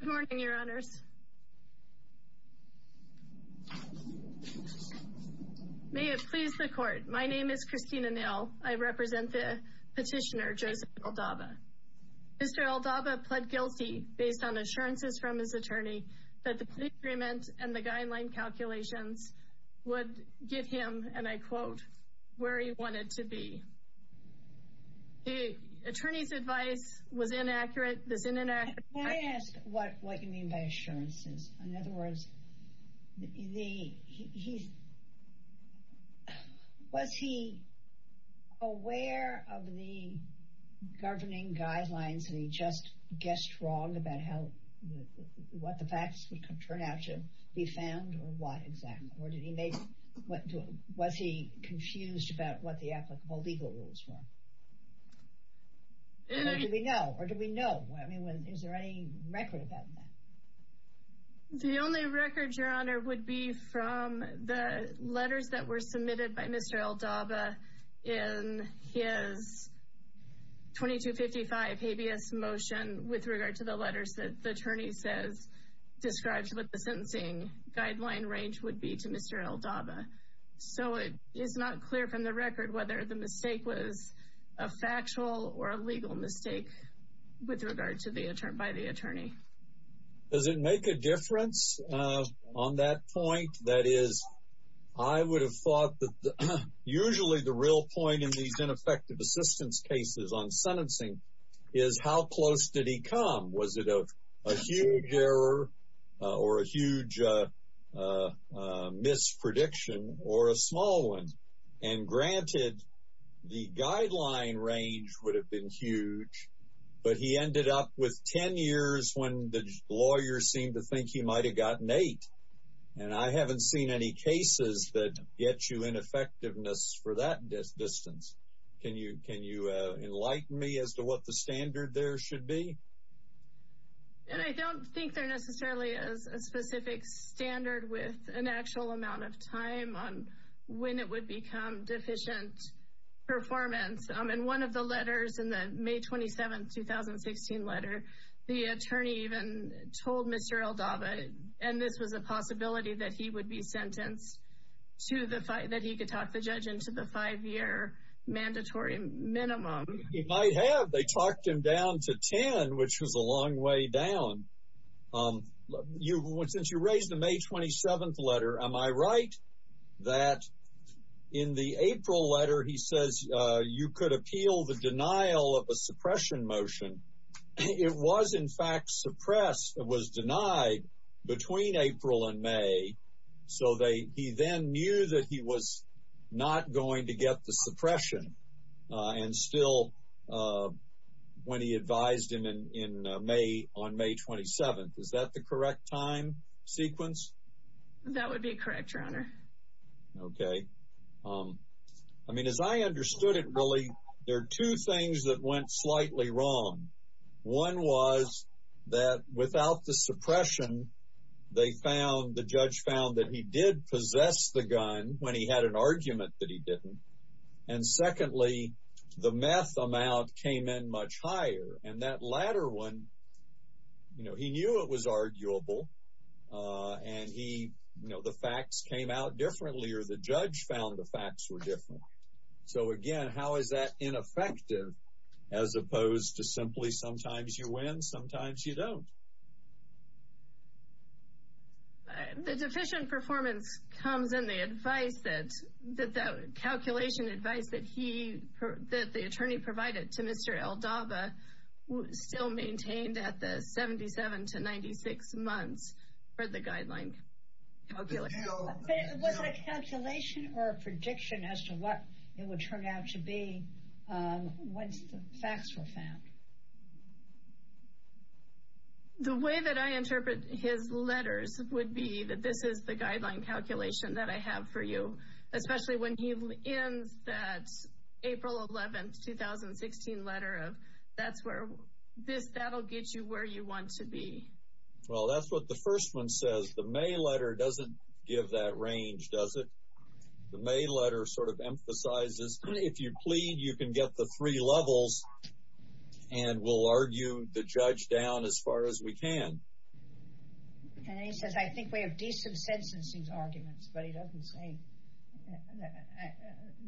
Good morning, your honors. May it please the court, my name is Christina Nail. I represent the petitioner Joseph Eldabaa. Mr. Eldabaa pled guilty based on assurances from his attorney that the plea agreement and the guideline calculations would get him, and I quote, where he wanted to be. The attorney's advice was inaccurate, this is inaccurate. Can I ask what you mean by assurances? In other words, was he aware of the governing guidelines and he just guessed wrong about what the facts would turn out to be found or was he confused about what the applicable legal rules were? Or do we know? Is there any record about that? The only record, your honor, would be from the letters that were submitted by Mr. Eldabaa in his 2255 habeas motion with regard to the letters that the guideline range would be to Mr. Eldabaa. So it is not clear from the record whether the mistake was a factual or a legal mistake with regard to the attorney, by the attorney. Does it make a difference on that point? That is, I would have thought that usually the real point in these ineffective assistance cases on sentencing is how close did he come? Was it a huge error or a huge misprediction or a small one? And granted, the guideline range would have been huge, but he ended up with ten years when the lawyers seemed to think he might have gotten eight. And I haven't seen any cases that get you in effectiveness for that distance. Can you enlighten me as to what the standard there should be? And I don't think there necessarily is a specific standard with an actual amount of time on when it would become deficient performance. In one of the letters, in the May 27, 2016 letter, the attorney even told Mr. Eldabaa, and this was a possibility that he would be into the five-year mandatory minimum. He might have. They talked him down to ten, which was a long way down. Since you raised the May 27 letter, am I right that in the April letter, he says you could appeal the denial of a suppression motion? It was, in fact, suppressed. It was not going to get the suppression. And still, when he advised him on May 27, is that the correct time sequence? That would be correct, Your Honor. Okay. I mean, as I understood it, really, there are two things that went slightly wrong. One was that without the suppression, they found, the judge found that he did possess the gun when he had an argument that he didn't. And secondly, the meth amount came in much higher. And that latter one, you know, he knew it was arguable, and he, you know, the facts came out differently, or the judge found the facts were different. So, again, how is that ineffective as opposed to simply sometimes you win, sometimes you don't? The deficient performance comes in the advice that, that that calculation advice that he, that the attorney provided to Mr. Eldaba still maintained at the 77 to 96 months for the guideline calculation. But was it a calculation or a prediction as to what it would turn out to be once the facts were found? The way that I interpret his letters would be that this is the guideline calculation that I have for you, especially when he ends that April 11, 2016 letter of, that's where, this, that'll get you where you want to be. Well, that's what the first one says. The May letter doesn't give that emphasizes, if you plead, you can get the three levels, and we'll argue the judge down as far as we can. And he says, I think we have decent sentencing arguments, but he doesn't say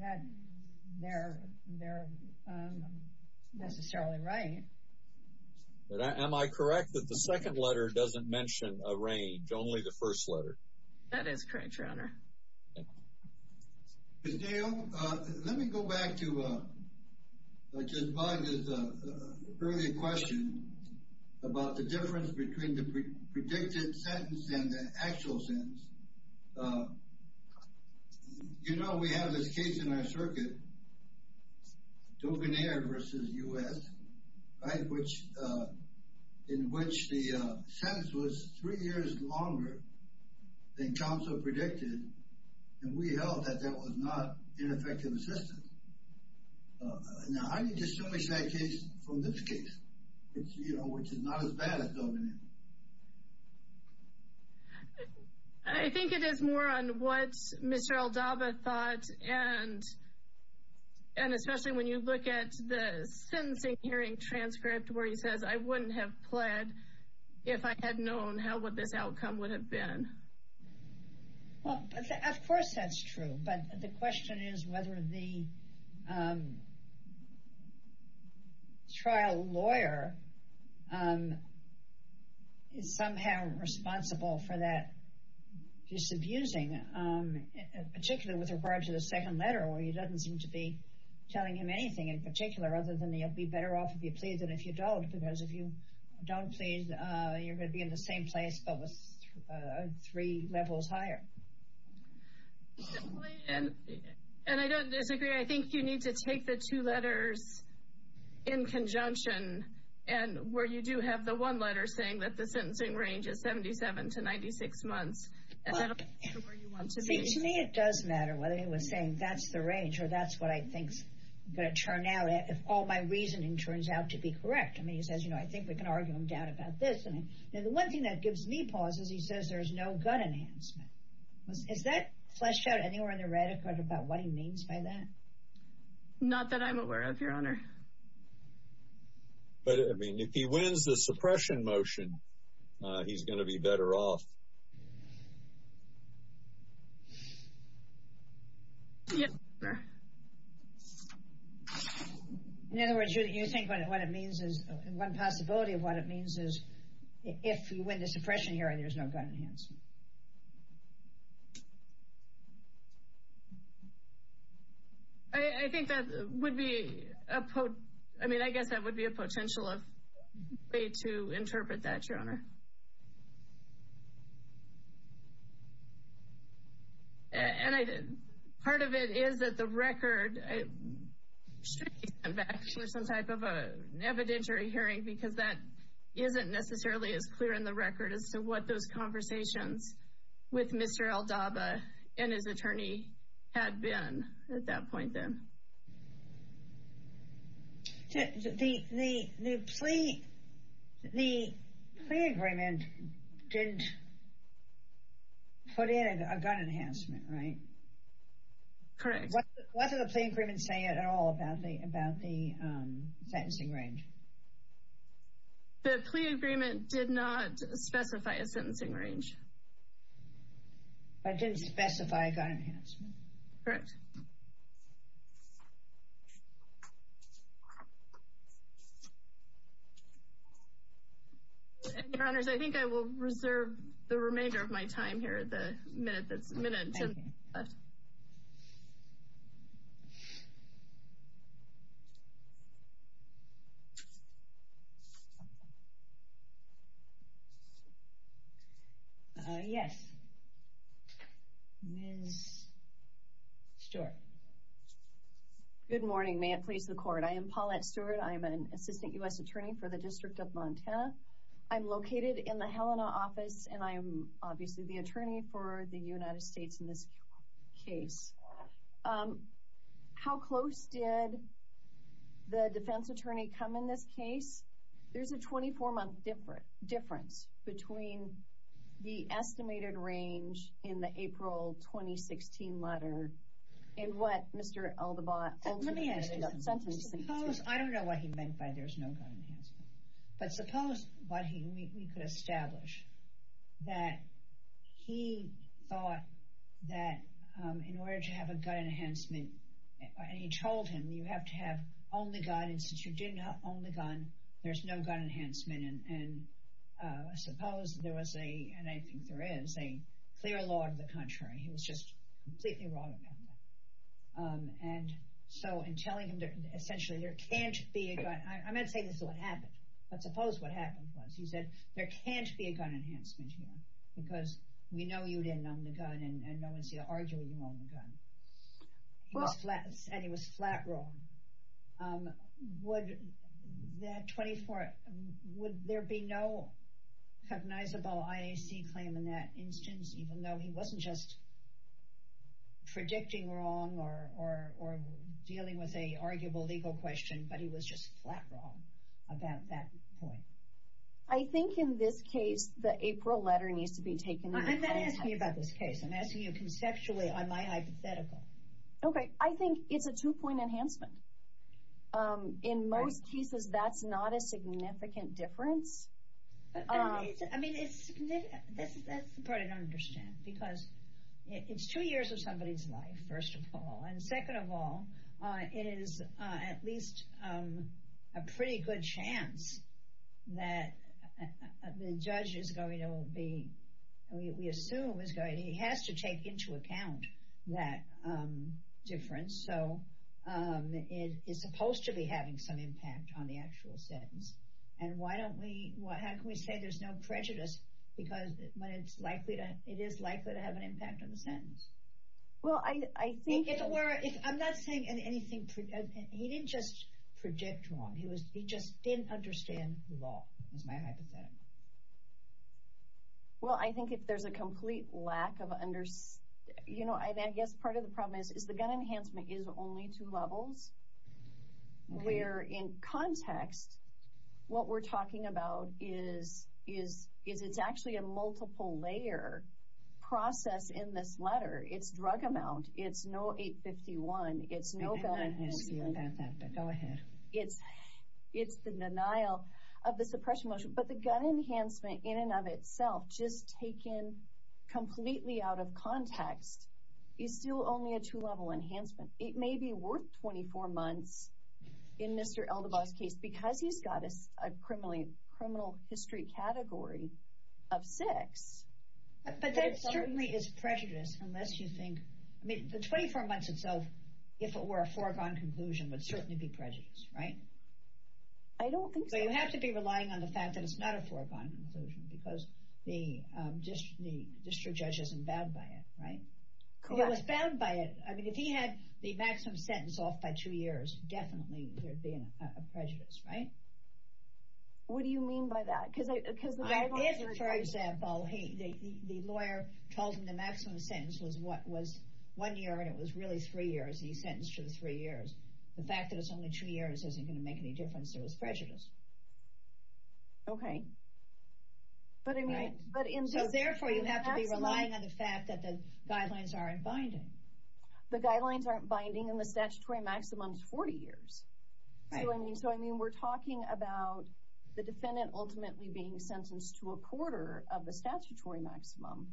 that they're, they're necessarily right. Am I correct that the second letter doesn't mention a range, only the first letter? That is correct, Your Honor. Ms. Dale, let me go back to Judge Bogd's earlier question about the difference between the predicted sentence and the actual sentence. You know, we have this case in our circuit, Dovenaire v. U.S., right, which, in which the sentence was three years longer than counsel predicted, and we held that that was not ineffective assistance. Now, how do you distinguish that case from this case? It's, you know, which is not as bad as Dovenaire. I think it is more on what Mr. Aldaba thought, and, and especially when you look at the sentencing hearing transcript, where he says, I wouldn't have pled if I had known how what this outcome would have been. Well, of course, that's true. But the question is whether the trial lawyer is somehow responsible for that disabusing, particularly with regard to the second letter, where he doesn't seem to be telling him anything in particular, other than he'll be better off if you plead than if you don't, because if you don't plead, you're going to be in the same place, but with three levels higher. And I don't disagree. I think you need to take the two letters in conjunction, and where you do have the one letter saying that the sentencing range is 77 to 96 months. It does matter whether he was saying that's the range or that's what I think is going to turn out if all my reasoning turns out to be correct. I mean, he says, you know, I think we can argue him down about this. And then the one thing that gives me pauses, he says there's no gun enhancement. Is that fleshed out anywhere in the record about what he means by that? Not that I'm aware of, Your Honor. But I mean, if he wins the suppression motion, he's going to be better off. In other words, you think what it means is, one possibility of what it means is, if you win the suppression hearing, there's no gun enhancement. I think that would be a, I mean, I guess that would be a potential way to interpret that, Your Honor. And part of it is that the record should be sent back for some type of evidentiary hearing, because that isn't necessarily as clear in the record as to what those conversations with Mr. Aldaba and his attorney had been at that point, then. The plea agreement didn't put in a gun enhancement, right? Correct. What did the plea agreement say at all about the sentencing range? The plea agreement did not specify a sentencing range. But it didn't specify a gun enhancement. Correct. Your Honors, I think I will reserve the remainder of my time here at the minute that's left. Thank you. Yes, Ms. Stewart. Good morning. May it please the Court. I am Paulette Stewart. I am an Assistant U.S. Attorney for the District of Montana. I'm located in the Helena office, and I'm obviously the attorney for the United States in this case. How close did the defense attorney come in this case? There's a 24-month difference between the estimated range in the April 2016 letter and what Mr. Aldaba ultimately sentenced him to. I don't know what he meant by there's no gun enhancement, but suppose what he could establish. That he thought that in order to have a gun enhancement, and he told him you have to have only gun, and since you didn't have only gun, there's no gun enhancement. And I suppose there was a, and I think there is, a clear law of the contrary. He was just completely wrong about that. And so in telling him that essentially there can't be a gun, I'm not saying this is what happened, but suppose what happened was. He said, there can't be a gun enhancement here, because we know you didn't own the gun, and no one's here arguing you own the gun. He said he was flat wrong. Would that 24, would there be no cognizable IAC claim in that instance, even though he wasn't just predicting wrong or dealing with a arguable legal question, but he was just flat wrong about that point. I think in this case, the April letter needs to be taken into account. I'm not asking you about this case, I'm asking you conceptually on my hypothetical. Okay, I think it's a two point enhancement. In most cases, that's not a significant difference. I mean, it's, that's the part I don't understand, because it's two years of somebody's life, first of all. And second of all, it is at least a pretty good chance that the judge is going to be, we assume he has to take into account that difference. So it is supposed to be having some impact on the actual sentence. And why don't we, how can we say there's no prejudice, because it is likely to have an impact on the sentence? Well, I think it's where, I'm not saying anything, he didn't just predict wrong, he was, he just didn't understand law, is my hypothetical. Well, I think if there's a complete lack of understanding, you know, I guess part of the problem is, is the gun enhancement is only two levels. Where in context, what we're talking about is, is, is it's actually a multiple layer process in this letter, it's drug amount, it's no 851, it's no gun enhancement. I didn't ask you about that, but go ahead. It's, it's the denial of the suppression motion, but the gun enhancement in and of itself, just taken completely out of context, is still only a two level enhancement. It may be worth 24 months in Mr. Eldabaugh's case, because he's got a criminal history category of six. But that certainly is prejudiced, unless you think, I mean, the 24 months itself, if it were a foregone conclusion, would certainly be prejudiced, right? I don't think so. You have to be relying on the fact that it's not a foregone conclusion, because the district judge isn't bound by it, right? Correct. Well, if he was bound by it, I mean, if he had the maximum sentence off by two years, definitely there'd be a prejudice, right? What do you mean by that? Because the guidelines are... If, for example, the lawyer told him the maximum sentence was one year, and it was really three years, and he sentenced to three years, the fact that it's only two years isn't going to make any difference, there was prejudice. Okay. But in... Right? But in... The guidelines aren't binding, and the statutory maximum is 40 years. Right. So, I mean, we're talking about the defendant ultimately being sentenced to a quarter of the statutory maximum,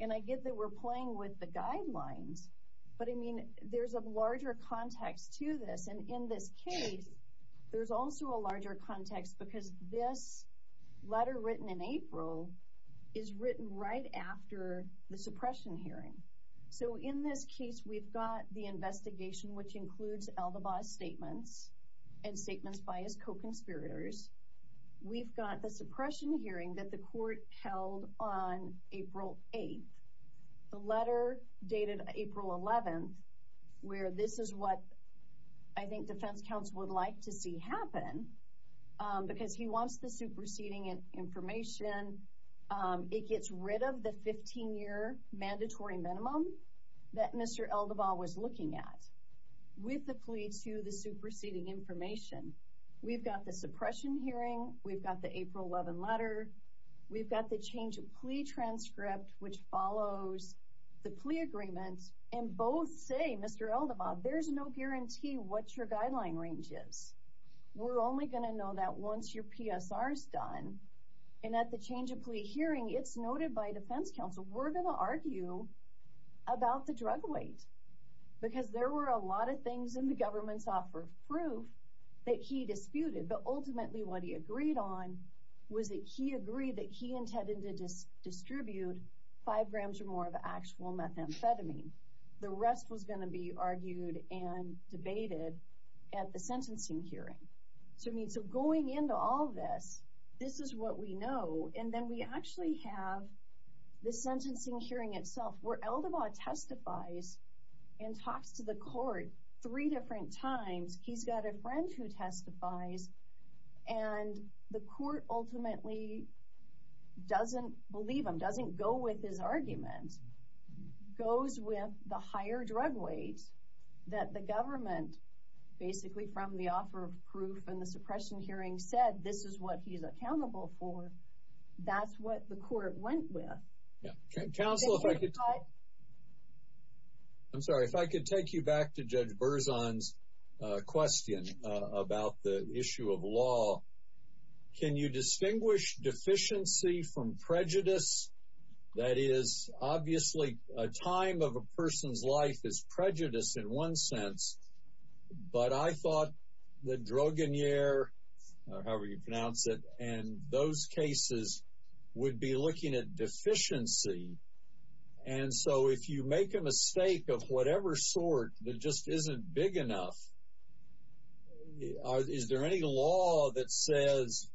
and I get that we're playing with the guidelines, but, I mean, there's a larger context to this. And in this case, there's also a larger context, because this letter written in April is written right after the suppression hearing. So, in this case, we've got the investigation, which includes Eldabaugh's statements and statements by his co-conspirators. We've got the suppression hearing that the court held on April 8th. The letter dated April 11th, where this is what I think defense counsel would like to see happen, because he wants the superseding information. And then, it gets rid of the 15-year mandatory minimum that Mr. Eldabaugh was looking at, with the plea to the superseding information. We've got the suppression hearing, we've got the April 11th letter, we've got the change of plea transcript, which follows the plea agreement, and both say, Mr. Eldabaugh, there's no guarantee what your guideline range is. We're only going to know that once your PSR is done, and at the change of plea hearing, it's noted by defense counsel, we're going to argue about the drug weight. Because there were a lot of things in the government's offer of proof that he disputed, but ultimately what he agreed on was that he agreed that he intended to distribute five grams or more of actual methamphetamine. The rest was going to be argued and debated at the sentencing hearing. So, going into all this, this is what we know, and then we actually have the sentencing hearing itself, where Eldabaugh testifies and talks to the court three different times. He's got a friend who testifies, and the court ultimately doesn't believe him, doesn't go with his argument, goes with the higher drug weight that the government, basically from the offer of proof and the suppression hearing, said this is what he's accountable for. That's what the court went with. Counsel, if I could take you back to Judge Berzon's question about the issue of law, can you distinguish deficiency from prejudice? That is, obviously a time of a person's life is prejudice in one sense, but I thought that Drogonier, or however you pronounce it, and those cases would be looking at deficiency. And so, if you make a mistake of whatever sort that just isn't big enough, is there any law that says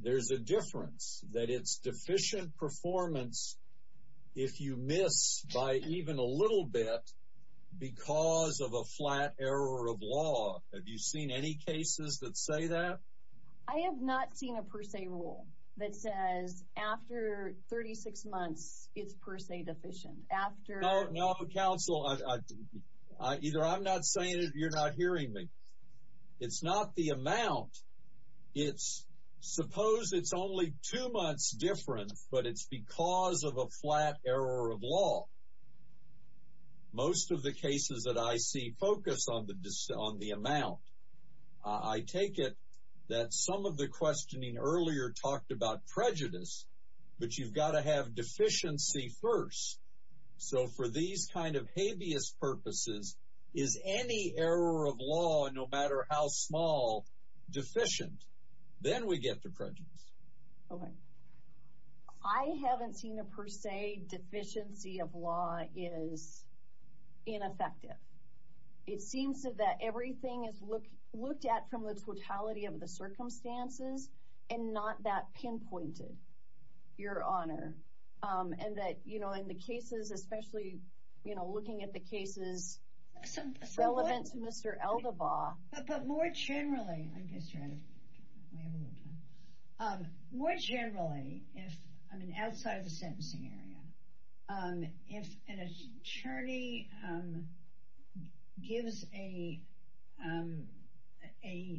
there's a difference, that it's deficient performance if you miss by even a little bit because of a flat error of law? Have you seen any cases that say that? I have not seen a per se rule that says after 36 months it's per se deficient. No, Counsel, either I'm not saying it or you're not hearing me. It's not the amount, it's suppose it's only two months different, but it's because of a flat error of law. Most of the cases that I see focus on the amount. I take it that some of the questioning earlier talked about prejudice, but you've got to have deficiency first. So, for these kind of habeas purposes, is any error of law, no matter how small, deficient? Then we get to prejudice. Okay. I haven't seen a per se deficiency of law is ineffective. It seems that everything is looked at from the totality of the circumstances and not that pinpointed, Your Honor. And that, you know, in the cases, especially, you know, looking at the cases relevant to Mr. Eldabaugh. But more generally, I guess, Your Honor, we have a little time. More generally, if, I mean, outside of the sentencing area, if an attorney gives a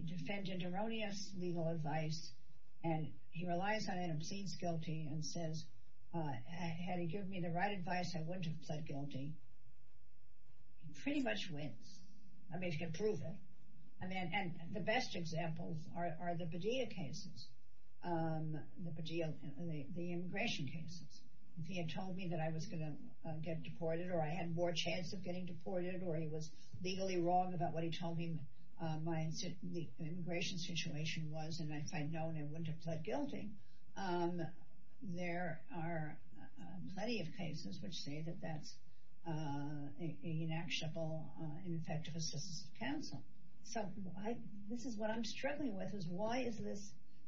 defendant erroneous legal advice and he relies on it and obscenes guilty and says, had he given me the right advice, I wouldn't have pled guilty, he pretty much wins. I mean, he can prove it. And the best examples are the Padilla cases, the immigration cases. If he had told me that I was going to get deported or I had more chance of getting deported or he was legally wrong about what he told me my immigration situation was and if I'd known, I wouldn't have pled guilty. There are plenty of cases which say that that's an inactionable, ineffective assistance to counsel. So this is what I'm struggling with, is why is this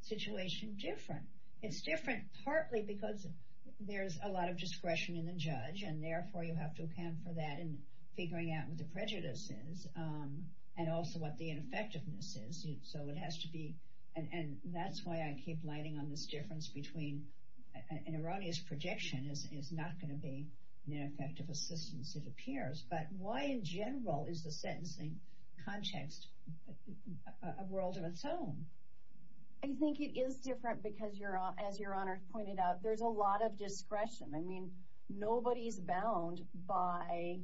situation different? It's different partly because there's a lot of discretion in the judge and therefore you have to account for that in figuring out what the prejudice is and also what the ineffectiveness is. So it has to be, and that's why I keep lighting on this difference between an erroneous projection is not going to be an ineffective assistance, it appears, but why in general is the sentencing context a world of its own? I think it is different because, as Your Honor pointed out, there's a lot of discretion. I mean, nobody's bound by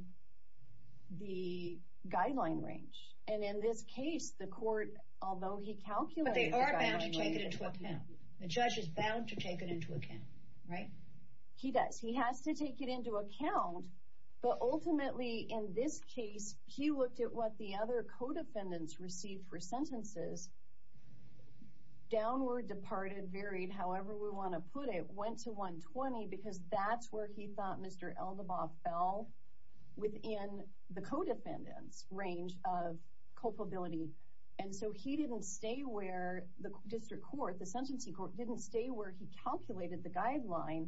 the guideline range. And in this case, the court, although he calculated the guideline range... But they are bound to take it into account. The judge is bound to take it into account, right? He does. He has to take it into account, but ultimately in this case, he looked at what the other co-defendants received for sentences, downward, departed, varied, however we want to put it, went to 120 because that's where he thought Mr. Eldabaugh fell within the co-defendant's range of culpability. And so he didn't stay where the district court, the sentencing court, didn't stay where he calculated the guideline.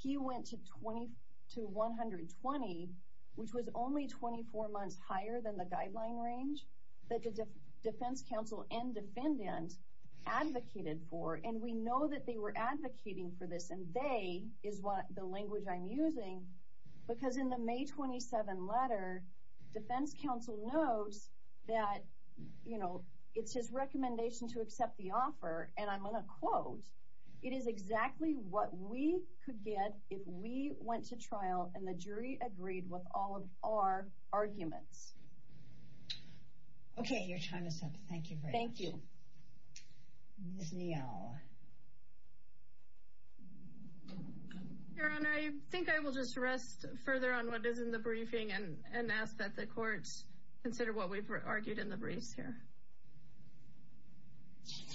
He went to 120, which was only 24 months higher than the guideline range that the defense counsel and defendant advocated for. And we know that they were advocating for this, and they is the language I'm using, because in the May 27 letter, defense counsel notes that, you know, it's his recommendation to accept the offer, and I'm going to quote, it is exactly what we could get if we went to trial and the jury agreed with all of our arguments. Okay, your time is up. Thank you very much. Thank you. Your Honor, I think I will just rest further on what is in the briefing and ask that the courts consider what we've argued in the briefs here.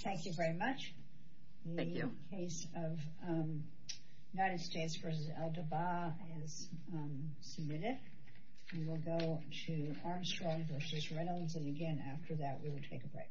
Thank you very much. Thank you. The case of United States v. Eldabaugh is submitted. We will go to Armstrong v. Reynolds, and again, after that, we will take a break.